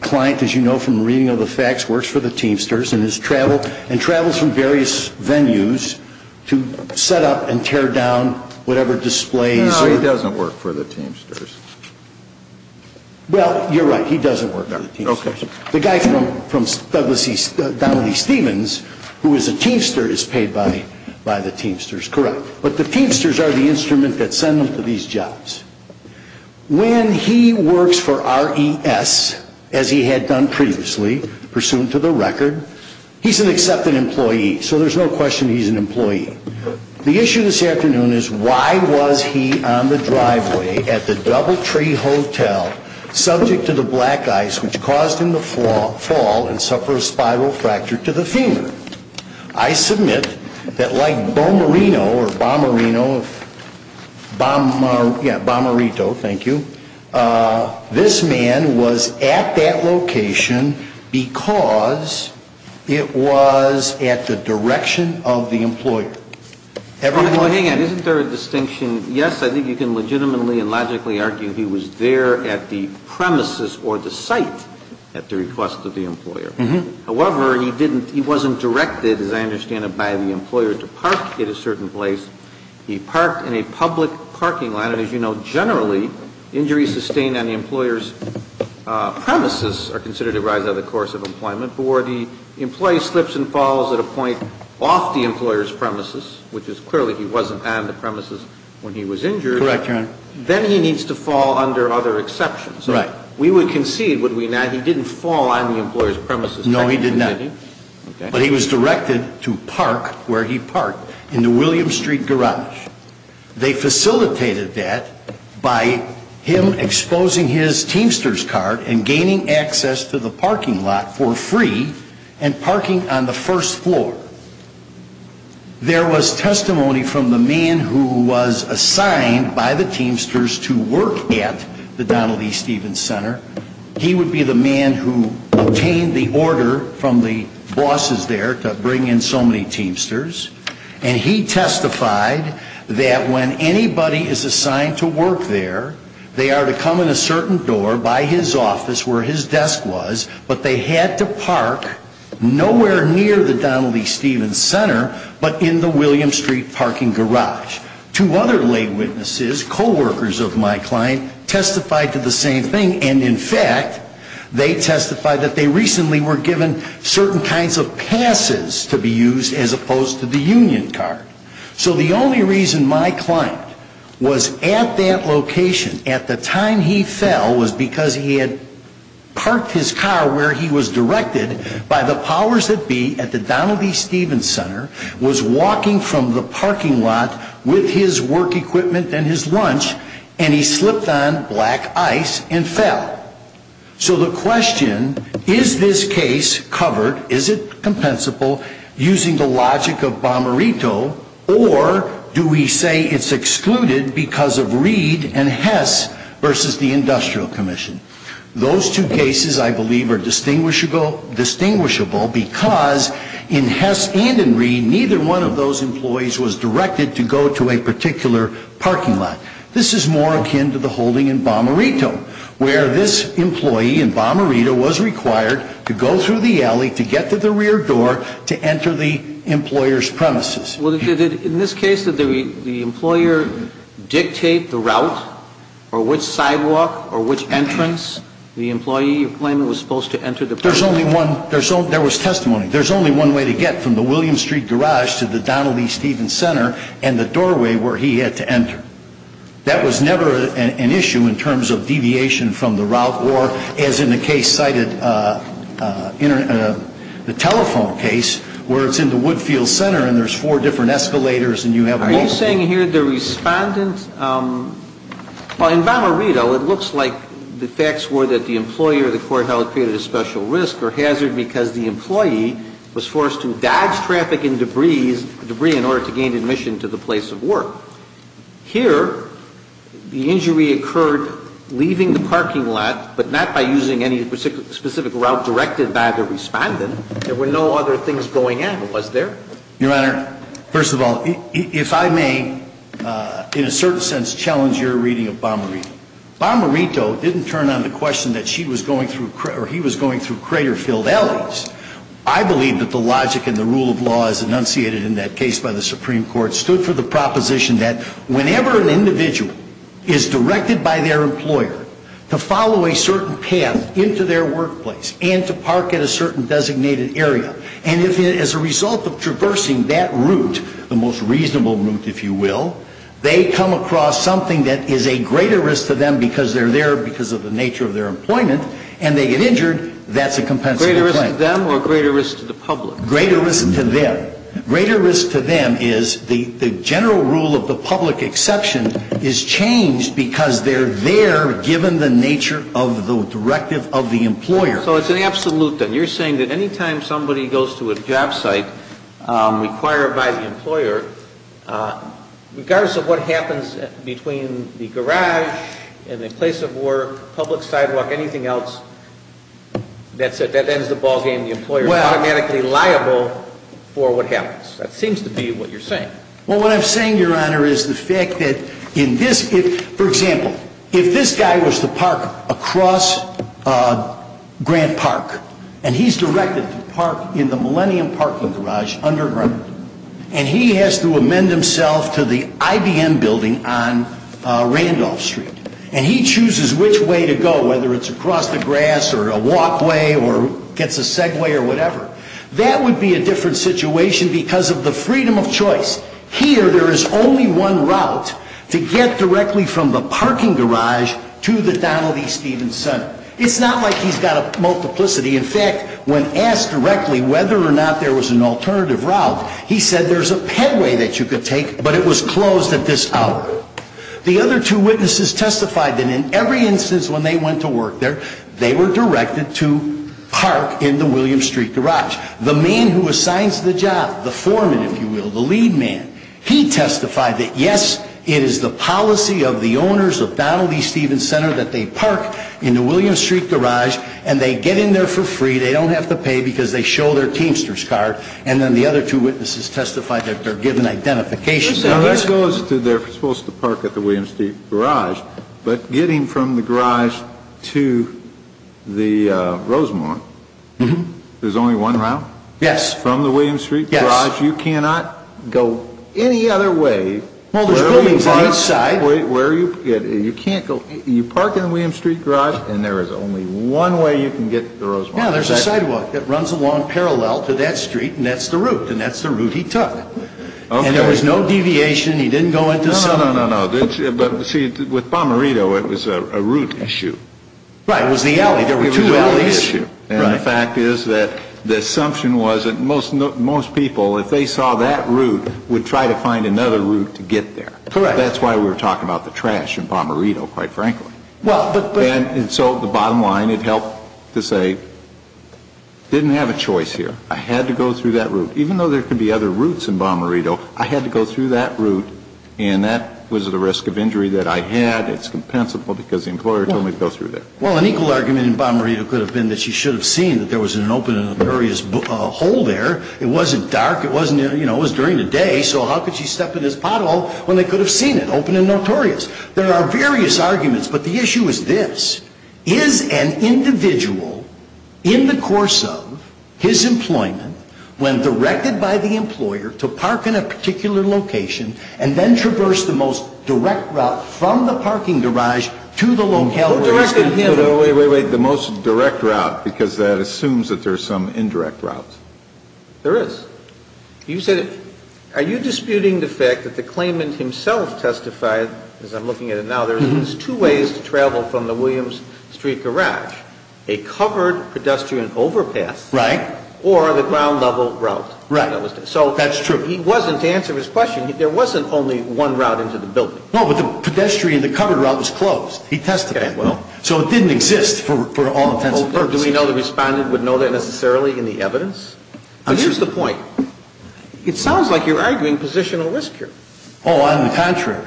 Client, as you know from the reading of the facts, works for the Teamsters and travels from various venues to set up and tear down whatever displays... No, he doesn't work for the Teamsters. Well, you're right, he doesn't work for the Teamsters. Okay. The guy from Douglas E. Stevens, who is a Teamster, is paid by the Teamsters, correct. But the Teamsters are the instrument that send them to these jobs. When he works for RES, as he had done previously, pursuant to the record, he's an accepted employee. So there's no question he's an employee. The issue this afternoon is why was he on the driveway at the Doubletree Hotel, subject to the black ice which caused him to fall and suffer a spiral fracture to the femur? I submit that like Bomarino or Bomarino, yeah, Bomarito, thank you, this man was at that location because it was at the direction of the employer. Hang on, isn't there a distinction? Yes, I think you can legitimately and logically argue he was there at the premises or the site at the request of the employer. However, he didn't, he wasn't directed, as I understand it, by the employer to park at a certain place. He parked in a public parking lot. And as you know, generally, injuries sustained on the employer's premises are considered a rise out of the course of employment. But where the employee slips and falls at a point off the employer's premises, which is clearly he wasn't on the premises when he was injured. Correct, Your Honor. Then he needs to fall under other exceptions. Right. We would concede, would we not, he didn't fall on the employer's premises. No, he did not. Okay. But he was directed to park where he parked, in the William Street Garage. They facilitated that by him exposing his Teamsters card and gaining access to the parking lot for free and parking on the first floor. There was testimony from the man who was assigned by the Teamsters to work at the Donald E. Stevens Center. He would be the man who obtained the order from the bosses there to bring in so many Teamsters. And he testified that when anybody is assigned to work there, they are to come in a certain door by his office where his desk was. But they had to park nowhere near the Donald E. Stevens Center but in the William Street parking garage. Two other lay witnesses, co-workers of my client, testified to the same thing. And in fact, they testified that they recently were given certain kinds of passes to be used as opposed to the union card. So the only reason my client was at that location at the time he fell was because he had parked his car where he was directed by the powers that be at the Donald E. Stevens Center, was walking from the parking lot with his work equipment and his lunch, and he slipped on black ice and fell. So the question, is this case covered, is it compensable, using the logic of Bomarito, or do we say it's excluded because of Reed and Hess versus the Industrial Commission? Those two cases, I believe, are distinguishable because in Hess and in Reed, neither one of those employees was directed to go to a particular parking lot. This is more akin to the holding in Bomarito, where this employee in Bomarito was required to go through the alley to get to the rear door to enter the employer's premises. Well, in this case, did the employer dictate the route or which sidewalk or which entrance the employee claimed was supposed to enter the parking lot? There was testimony. There's only one way to get from the Williams Street garage to the Donald E. Stevens Center and the doorway where he had to enter. That was never an issue in terms of deviation from the route or, as in the case cited, the telephone case, where it's in the Woodfield Center and there's four different escalators and you have multiple. So what I'm saying here, the Respondent – well, in Bomarito, it looks like the facts were that the employee or the courthouse created a special risk or hazard because the employee was forced to dodge traffic and debris in order to gain admission to the place of work. Here, the injury occurred leaving the parking lot, but not by using any specific route directed by the Respondent. There were no other things going on, was there? Your Honor, first of all, if I may, in a certain sense, challenge your reading of Bomarito. Bomarito didn't turn on the question that he was going through crater-filled alleys. I believe that the logic and the rule of law as enunciated in that case by the Supreme Court stood for the proposition that whenever an individual is directed by their employer to follow a certain path into their workplace and to park at a certain designated area, and if as a result of traversing that route, the most reasonable route, if you will, they come across something that is a greater risk to them because they're there because of the nature of their employment and they get injured, that's a compensable claim. Greater risk to them or greater risk to the public? Greater risk to them. Greater risk to them is the general rule of the public exception is changed because they're there given the nature of the directive of the employer. So it's an absolute then. You're saying that any time somebody goes to a job site required by the employer, regardless of what happens between the garage and the place of work, public sidewalk, anything else, that ends the ballgame. The employer is automatically liable for what happens. That seems to be what you're saying. Well, what I'm saying, Your Honor, is the fact that in this, for example, if this guy was to park across Grant Park, and he's directed to park in the Millennium Parking Garage underground, and he has to amend himself to the IBM building on Randolph Street, and he chooses which way to go, whether it's across the grass or a walkway or gets a Segway or whatever, that would be a different situation because of the freedom of choice. Here, there is only one route to get directly from the parking garage to the Donald E. Stevens Center. It's not like he's got a multiplicity. In fact, when asked directly whether or not there was an alternative route, he said there's a Pedway that you could take, but it was closed at this hour. The other two witnesses testified that in every instance when they went to work there, they were directed to park in the Williams Street Garage. The man who assigns the job, the foreman, if you will, the lead man, he testified that, yes, it is the policy of the owners of Donald E. Stevens Center that they park in the Williams Street Garage, and they get in there for free. They don't have to pay because they show their Teamsters card. And then the other two witnesses testified that they're given identification. Now, that goes to they're supposed to park at the Williams Street Garage, but getting from the garage to the Rosemont, there's only one route? Yes. From the Williams Street Garage? Yes. You cannot go any other way. Well, there's buildings on each side. You park in the Williams Street Garage, and there is only one way you can get to the Rosemont. Yeah, there's a sidewalk that runs along parallel to that street, and that's the route, and that's the route he took. And there was no deviation? He didn't go into some? No, no, no, no. But, see, with Bomarito, it was a route issue. Right. There were two alleys. It was a route issue. And the fact is that the assumption was that most people, if they saw that route, would try to find another route to get there. Correct. That's why we were talking about the trash in Bomarito, quite frankly. And so the bottom line, it helped to say, didn't have a choice here. I had to go through that route. Even though there could be other routes in Bomarito, I had to go through that route, and that was at a risk of injury that I had. It's compensable because the employer told me to go through there. Well, an equal argument in Bomarito could have been that she should have seen that there was an open and notorious hole there. It wasn't dark. It wasn't, you know, it was during the day, so how could she step in this pothole when they could have seen it, open and notorious? There are various arguments, but the issue is this. Is an individual, in the course of his employment, when directed by the employer to park in a particular location, and then traverse the most direct route from the parking garage to the locale where he's going to be? Wait, wait, wait. The most direct route, because that assumes that there's some indirect route. There is. You said, are you disputing the fact that the claimant himself testified, as I'm looking at it now, there's two ways to travel from the Williams Street garage, a covered pedestrian overpass. Right. Or the ground level route. Right. So. That's true. He wasn't, to answer his question, there wasn't only one route into the building. No, but the pedestrian, the covered route was closed. He testified. Okay, well. So it didn't exist for all intents and purposes. Do we know the Respondent would know that necessarily in the evidence? Here's the point. It sounds like you're arguing positional risk here. Oh, I'm the contrary.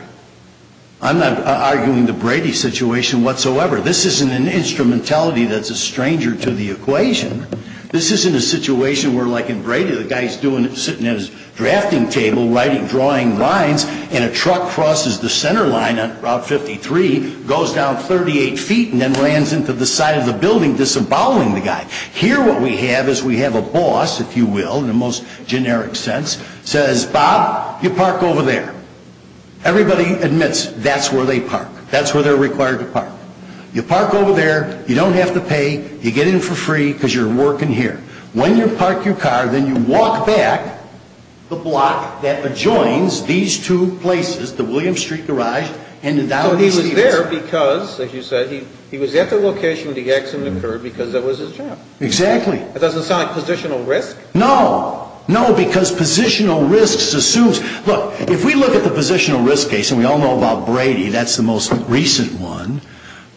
I'm not arguing the Brady situation whatsoever. This isn't an instrumentality that's a stranger to the equation. This isn't a situation where, like in Brady, the guy's sitting at his drafting table drawing lines, and a truck crosses the center line on Route 53, goes down 38 feet, and then lands into the side of the building, disemboweling the guy. Here what we have is we have a boss, if you will, in the most generic sense, says, Bob, you park over there. Everybody admits that's where they park. That's where they're required to park. You park over there. You don't have to pay. You get in for free because you're working here. When you park your car, then you walk back the block that adjoins these two places, the Williams Street Garage and the Downey's events. So he was there because, as you said, he was at the location where the accident occurred because that was his job. Exactly. That doesn't sound like positional risk. No. No, because positional risk assumes. Look, if we look at the positional risk case, and we all know about Brady. That's the most recent one.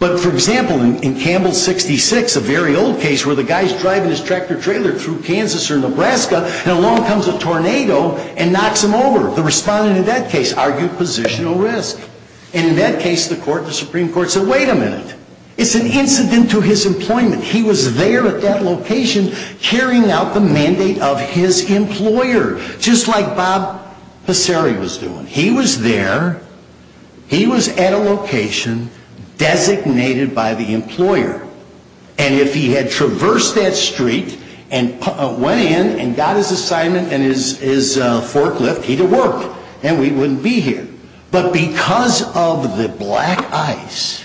But, for example, in Campbell 66, a very old case where the guy's driving his tractor-trailer through Kansas or Nebraska, and along comes a tornado and knocks him over. The respondent in that case argued positional risk. And in that case, the Supreme Court said, wait a minute. It's an incident to his employment. He was there at that location carrying out the mandate of his employer. Just like Bob Passeri was doing. He was there. He was at a location designated by the employer. And if he had traversed that street and went in and got his assignment and his forklift, he'd have worked. And we wouldn't be here. But because of the black ice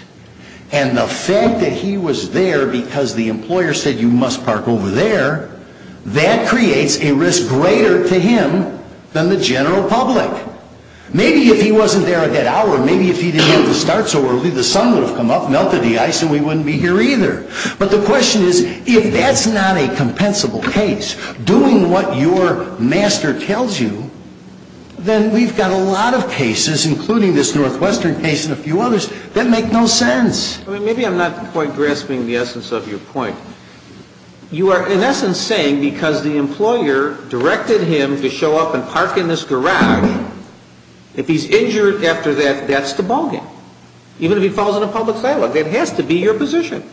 and the fact that he was there because the employer said you must park over there, that creates a risk greater to him than the general public. Maybe if he wasn't there at that hour, maybe if he didn't have to start so early, the sun would have come up, melted the ice, and we wouldn't be here either. But the question is, if that's not a compensable case, doing what your master tells you, then we've got a lot of cases, including this Northwestern case and a few others, that make no sense. Maybe I'm not quite grasping the essence of your point. You are, in essence, saying because the employer directed him to show up and park in this garage, if he's injured after that, that's the ballgame. Even if he falls in a public file, that has to be your position.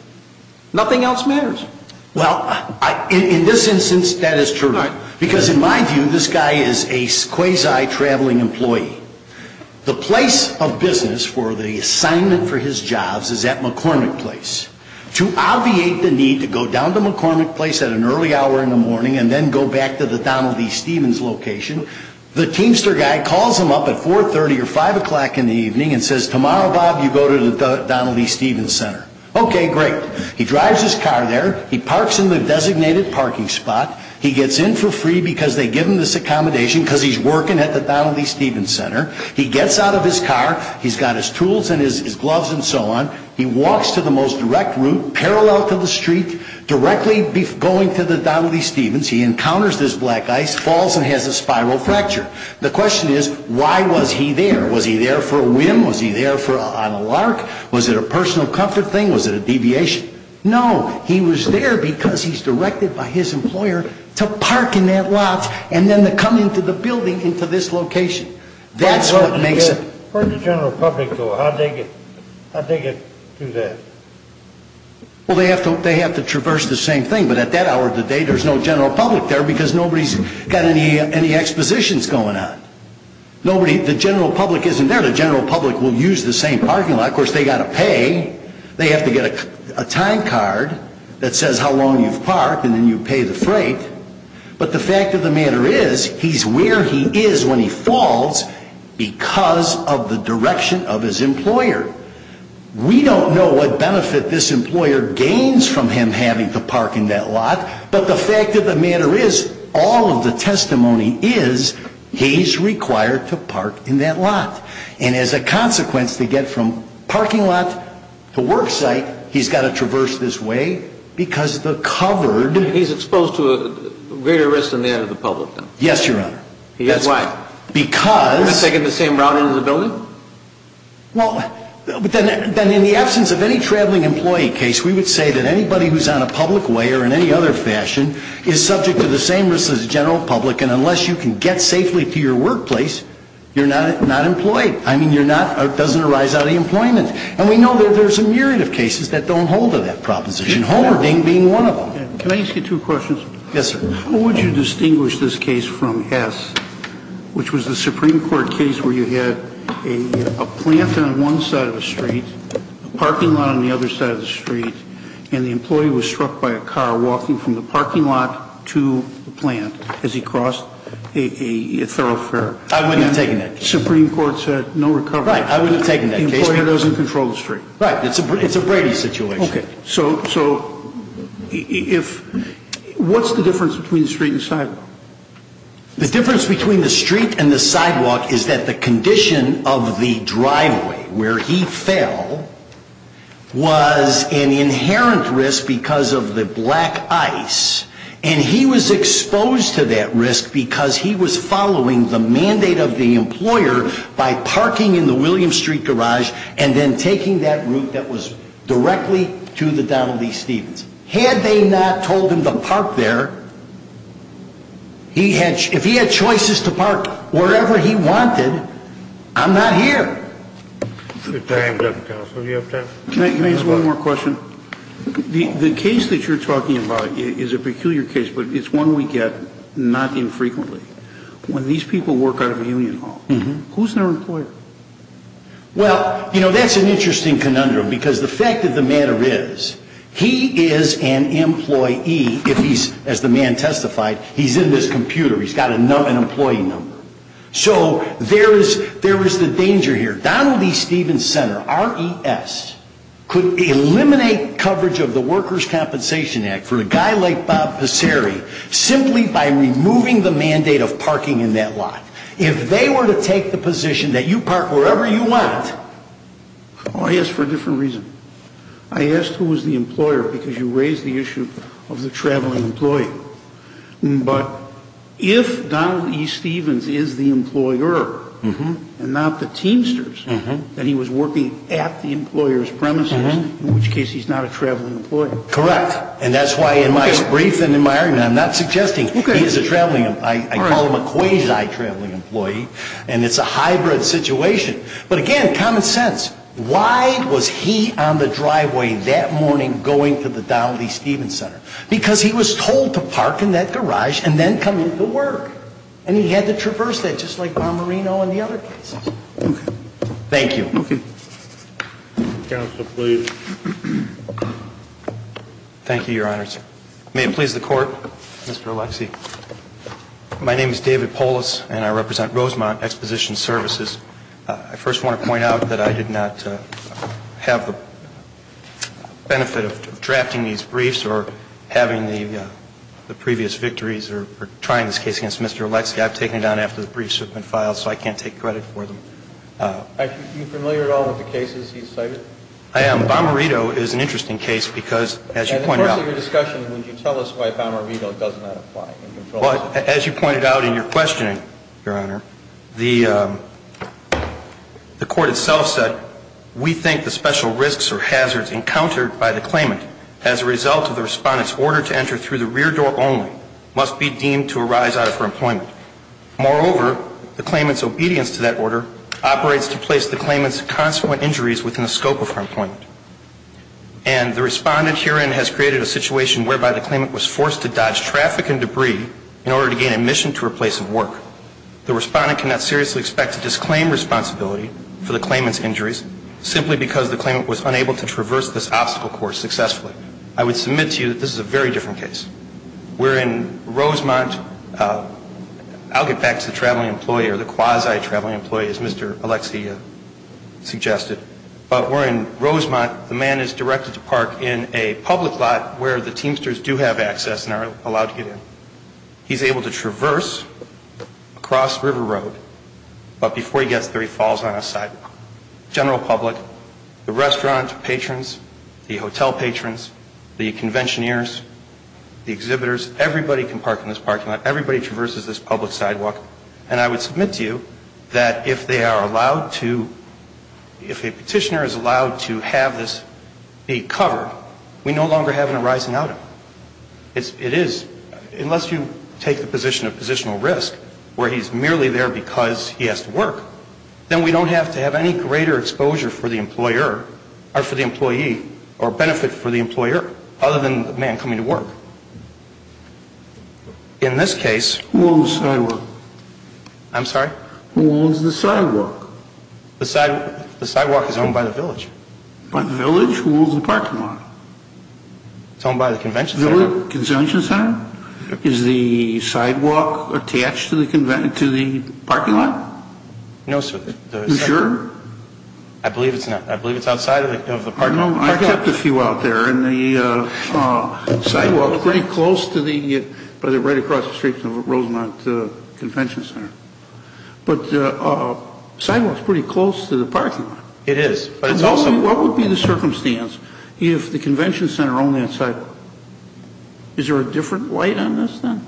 Nothing else matters. Well, in this instance, that is true. Because in my view, this guy is a quasi-traveling employee. The place of business for the assignment for his jobs is at McCormick Place. To obviate the need to go down to McCormick Place at an early hour in the morning and then go back to the Donald E. Stevens location, the Teamster guy calls him up at 4.30 or 5 o'clock in the evening and says, Tomorrow, Bob, you go to the Donald E. Stevens Center. Okay, great. He drives his car there. He parks in the designated parking spot. He gets in for free because they give him this accommodation because he's working at the Donald E. Stevens Center. He gets out of his car. He's got his tools and his gloves and so on. He walks to the most direct route, parallel to the street, directly going to the Donald E. Stevens. He encounters this black ice, falls, and has a spiral fracture. The question is, why was he there? Was he there for a whim? Was he there on a lark? Was it a personal comfort thing? Was it a deviation? No. He was there because he's directed by his employer to park in that lot and then to come into the building into this location. That's what makes it. Where did the general public go? How did they get to that? Well, they have to traverse the same thing, but at that hour of the day, there's no general public there because nobody's got any expositions going on. The general public isn't there. The general public will use the same parking lot. Of course, they've got to pay. They have to get a time card that says how long you've parked, and then you pay the freight. But the fact of the matter is, he's where he is when he falls because of the direction of his employer. We don't know what benefit this employer gains from him having to park in that lot, but the fact of the matter is, all of the testimony is, he's required to park in that lot. And as a consequence, to get from parking lot to work site, he's got to traverse this way He's exposed to a greater risk on the end of the public then. Yes, Your Honor. Why? Because Is he taking the same route into the building? Well, then in the absence of any traveling employee case, we would say that anybody who's on a public way or in any other fashion is subject to the same risks as the general public, and unless you can get safely to your workplace, you're not employed. I mean, you're not, it doesn't arise out of employment. And we know that there's a myriad of cases that don't hold to that proposition, Homer being one of them. Can I ask you two questions? Yes, sir. How would you distinguish this case from S, which was the Supreme Court case where you had a plant on one side of the street, a parking lot on the other side of the street, and the employee was struck by a car walking from the parking lot to the plant as he crossed a thoroughfare? I wouldn't have taken that case. The Supreme Court said no recovery. Right, I wouldn't have taken that case. The employer doesn't control the street. Right. It's a Brady situation. Okay. So what's the difference between the street and sidewalk? The difference between the street and the sidewalk is that the condition of the driveway where he fell was an inherent risk because of the black ice, and he was exposed to that risk because he was following the mandate of the employer by parking in the Williams Street garage and then taking that route that was directly to the Donald E. Stevens. Had they not told him to park there, if he had choices to park wherever he wanted, I'm not here. Time's up, counsel. Do you have time? Can I ask one more question? The case that you're talking about is a peculiar case, but it's one we get not infrequently. When these people work out of a union hall, who's their employer? Well, you know, that's an interesting conundrum because the fact of the matter is he is an employee if he's, as the man testified, he's in this computer. He's got an employee number. So there is the danger here. Donald E. Stevens' center, RES, could eliminate coverage of the Workers' Compensation Act for a guy like Bob Passeri simply by removing the mandate of parking in that lot. If they were to take the position that you park wherever you want. Oh, yes, for a different reason. I asked who was the employer because you raised the issue of the traveling employee. But if Donald E. Stevens is the employer and not the Teamsters, then he was working at the employer's premises, in which case he's not a traveling employee. Correct. And that's why in my brief and in my argument I'm not suggesting he is a traveling employee. I call him a quasi-traveling employee, and it's a hybrid situation. But again, common sense. Why was he on the driveway that morning going to the Donald E. Stevens' center? Because he was told to park in that garage and then come into work, and he had to traverse that just like Marmarino and the other cases. Thank you. Okay. Counsel, please. Thank you, Your Honors. May it please the Court, Mr. Alexie. My name is David Polis, and I represent Rosemount Exposition Services. I first want to point out that I did not have the benefit of drafting these briefs or having the previous victories or trying this case against Mr. Alexie. I've taken it down after the briefs have been filed, so I can't take credit for them. Are you familiar at all with the cases he's cited? I am. Well, Marmarino is an interesting case because, as you pointed out. In the course of your discussion, would you tell us why Marmarino does not apply? As you pointed out in your questioning, Your Honor, the Court itself said, we think the special risks or hazards encountered by the claimant as a result of the Respondent's order to enter through the rear door only must be deemed to arise out of her employment. Moreover, the claimant's obedience to that order operates to place the claimant's within the scope of her employment. And the Respondent herein has created a situation whereby the claimant was forced to dodge traffic and debris in order to gain admission to a place of work. The Respondent cannot seriously expect to disclaim responsibility for the claimant's injuries simply because the claimant was unable to traverse this obstacle course successfully. I would submit to you that this is a very different case. We're in Rosemount. I'll get back to the traveling employee or the quasi-traveling employee, as Mr. Alexia suggested. But we're in Rosemount. The man is directed to park in a public lot where the Teamsters do have access and are allowed to get in. He's able to traverse across River Road, but before he gets there, he falls on a sidewalk. General public, the restaurant patrons, the hotel patrons, the conventioneers, the exhibitors, everybody can park in this parking lot. Everybody traverses this public sidewalk. And I would submit to you that if they are allowed to, if a petitioner is allowed to have this be covered, we no longer have an arising out of him. It is, unless you take the position of positional risk where he's merely there because he has to work, then we don't have to have any greater exposure for the employer or for the employee or benefit for the employer other than the man coming to work. In this case... Who owns the sidewalk? I'm sorry? Who owns the sidewalk? The sidewalk is owned by the village. By the village? Who owns the parking lot? It's owned by the convention center. The convention center? Is the sidewalk attached to the parking lot? No, sir. Are you sure? I believe it's outside of the parking lot. I don't know. I checked a few out there, and the sidewalk is pretty close to the, right across the street from the Rosemont Convention Center. But the sidewalk is pretty close to the parking lot. It is, but it's also... What would be the circumstance if the convention center owned that sidewalk? Is there a different light on this then?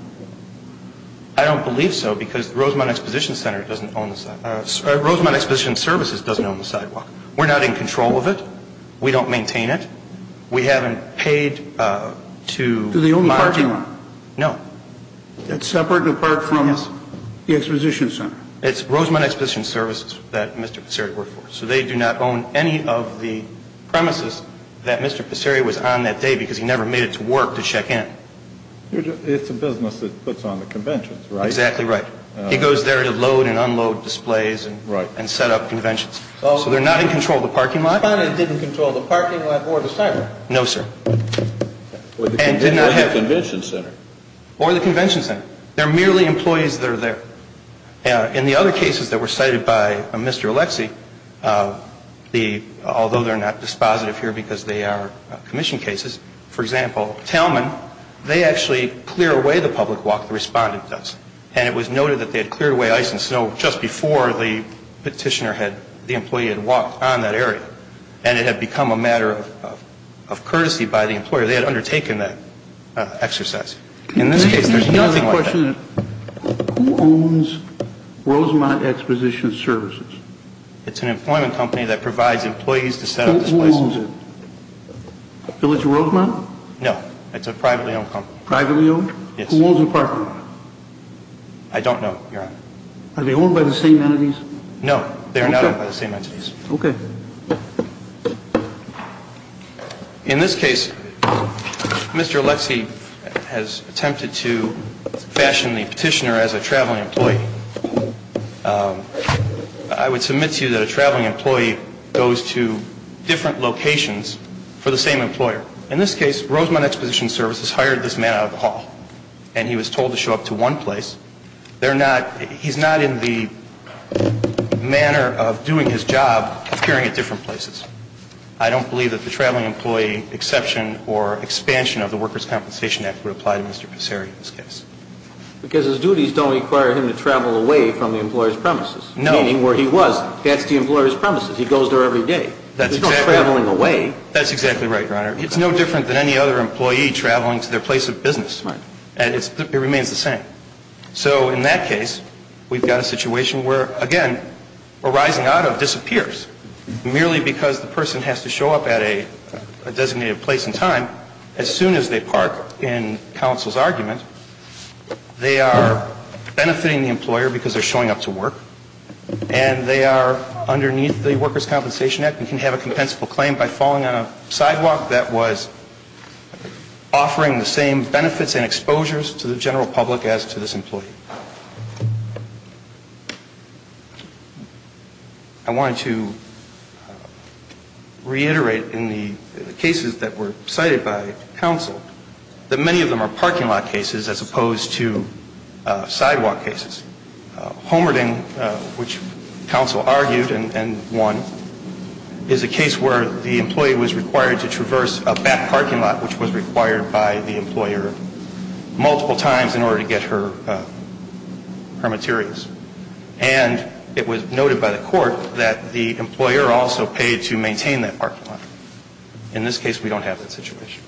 I don't believe so because the Rosemont Exposition Center doesn't own the sidewalk. Rosemont Exposition Services doesn't own the sidewalk. We're not in control of it. We don't maintain it. We haven't paid to... Do they own the parking lot? No. That's separate and apart from the Exposition Center. It's Rosemont Exposition Services that Mr. Passeri worked for. So they do not own any of the premises that Mr. Passeri was on that day because he never made it to work to check in. It's a business that puts on the conventions, right? Exactly right. He goes there to load and unload displays and set up conventions. So they're not in control of the parking lot? The Respondent didn't control the parking lot or the sidewalk. No, sir. Or the convention center. Or the convention center. They're merely employees that are there. In the other cases that were cited by Mr. Alexie, although they're not dispositive here because they are commission cases, for example, Talman, they actually clear away the public walk the Respondent does. And it was noted that they had cleared away ice and snow just before the Petitioner had, the employee had walked on that area. And it had become a matter of courtesy by the employer. They had undertaken that exercise. In this case, there's nothing like that. Who owns Rosemont Exposition Services? It's an employment company that provides employees to set up displays. Who owns it? Village of Rosemont? No. It's a privately owned company. Privately owned? Yes. Who owns the parking lot? I don't know, Your Honor. Are they owned by the same entities? No. They are not owned by the same entities. Okay. In this case, Mr. Alexie has attempted to fashion the Petitioner as a traveling employee. I would submit to you that a traveling employee goes to different locations for the same employer. In this case, Rosemont Exposition Services hired this man out of the hall, and he was told to show up to one place. He's not in the manner of doing his job appearing at different places. I don't believe that the traveling employee exception or expansion of the Workers' Compensation Act would apply to Mr. Passeri in this case. Because his duties don't require him to travel away from the employer's premises. No. Meaning where he was, that's the employer's premises. He goes there every day. That's exactly right. He's not traveling away. That's exactly right, Your Honor. It's no different than any other employee traveling to their place of business. Right. And it remains the same. So in that case, we've got a situation where, again, a rising auto disappears. Merely because the person has to show up at a designated place and time, as soon as they park in counsel's argument, they are benefiting the employer because they're showing up to work, and they are underneath the Workers' Compensation Act and can have a compensable claim by falling on a sidewalk that was offering the same benefits and exposures to the general public as to this employee. I wanted to reiterate in the cases that were cited by counsel that many of them are parking lot cases as opposed to sidewalk cases. Homerding, which counsel argued and won, is a case where the employee was required to traverse a back parking lot, which was required by the employer multiple times in order to get her materials. And it was noted by the court that the employer also paid to maintain that parking lot. In this case, we don't have that situation.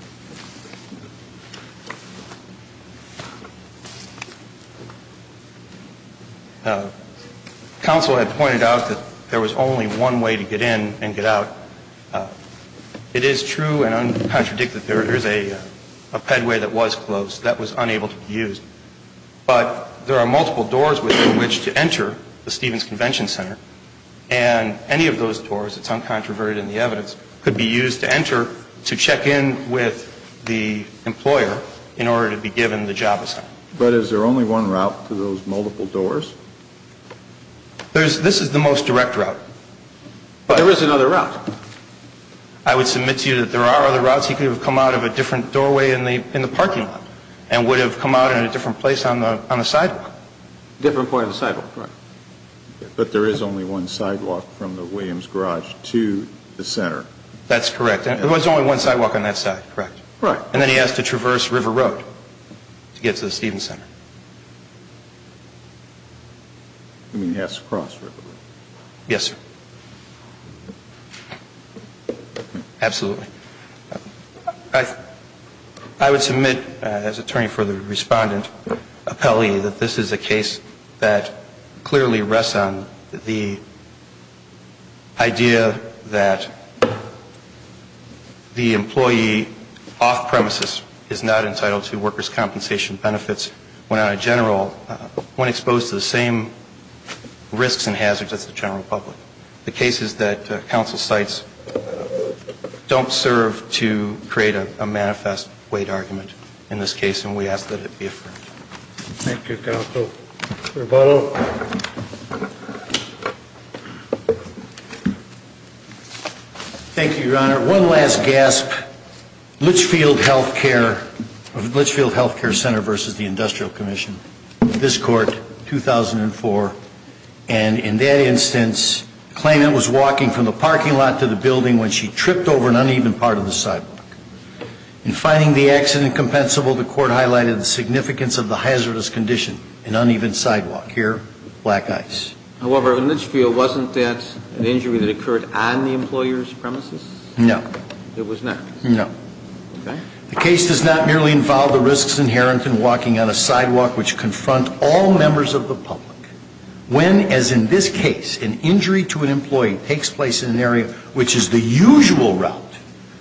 Counsel had pointed out that there was only one way to get in and get out. It is true and uncontradicted. There is a pedway that was closed that was unable to be used. But there are multiple doors within which to enter the Stevens Convention Center, and any of those doors, it's uncontroverted in the evidence, the employer in order to be given the job assignment. But is there only one route to those multiple doors? This is the most direct route. But there is another route. I would submit to you that there are other routes. He could have come out of a different doorway in the parking lot and would have come out in a different place on the sidewalk. Different part of the sidewalk, right. But there is only one sidewalk from the Williams garage to the center. That's correct. There was only one sidewalk on that side, correct. Right. And then he has to traverse River Road to get to the Stevens Center. You mean he has to cross River Road? Yes, sir. Absolutely. I would submit as attorney for the respondent, that this is a case that clearly rests on the idea that the employee off-premises is not entitled to workers' compensation benefits when on a general, when exposed to the same risks and hazards as the general public. The case is that council sites don't serve to create a manifest weight argument in this case, and we ask that it be affirmed. Thank you, counsel. Mr. Votto. Thank you, Your Honor. One last gasp. Litchfield Health Care Center versus the Industrial Commission. This court, 2004. And in that instance, claimant was walking from the parking lot to the building when she tripped over an uneven part of the sidewalk. In finding the accident compensable, the court highlighted the significance of the hazardous condition, an uneven sidewalk. Here, black ice. However, in Litchfield, wasn't that an injury that occurred on the employer's premises? No. It was not? No. Okay. The case does not merely involve the risks inherent in walking on a sidewalk, which confront all members of the public, when, as in this case, an injury to an employee takes place in an area which is the usual route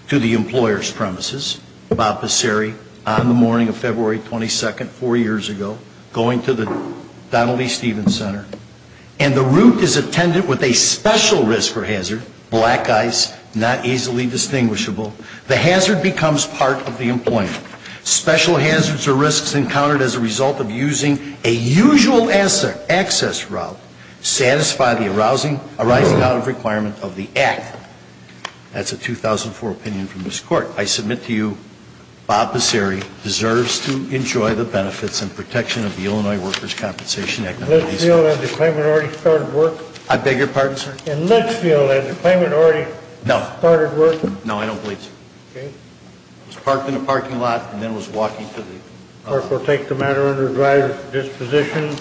to the employer's premises. Bob Passeri, on the morning of February 22nd, four years ago, going to the Donald E. Stevens Center. And the route is attended with a special risk or hazard, black ice, not easily distinguishable. The hazard becomes part of the employment. Special hazards or risks encountered as a result of using a usual access route satisfy the arising out of requirement of the act. That's a 2004 opinion from this court. I submit to you, Bob Passeri deserves to enjoy the benefits and protection of the Illinois Workers' Compensation Act. Litchfield, has the claimant already started work? I beg your pardon, sir? In Litchfield, has the claimant already started work? No, I don't believe so. Okay. He was parked in a parking lot and then was walking to the... The court will take the matter under drive disposition.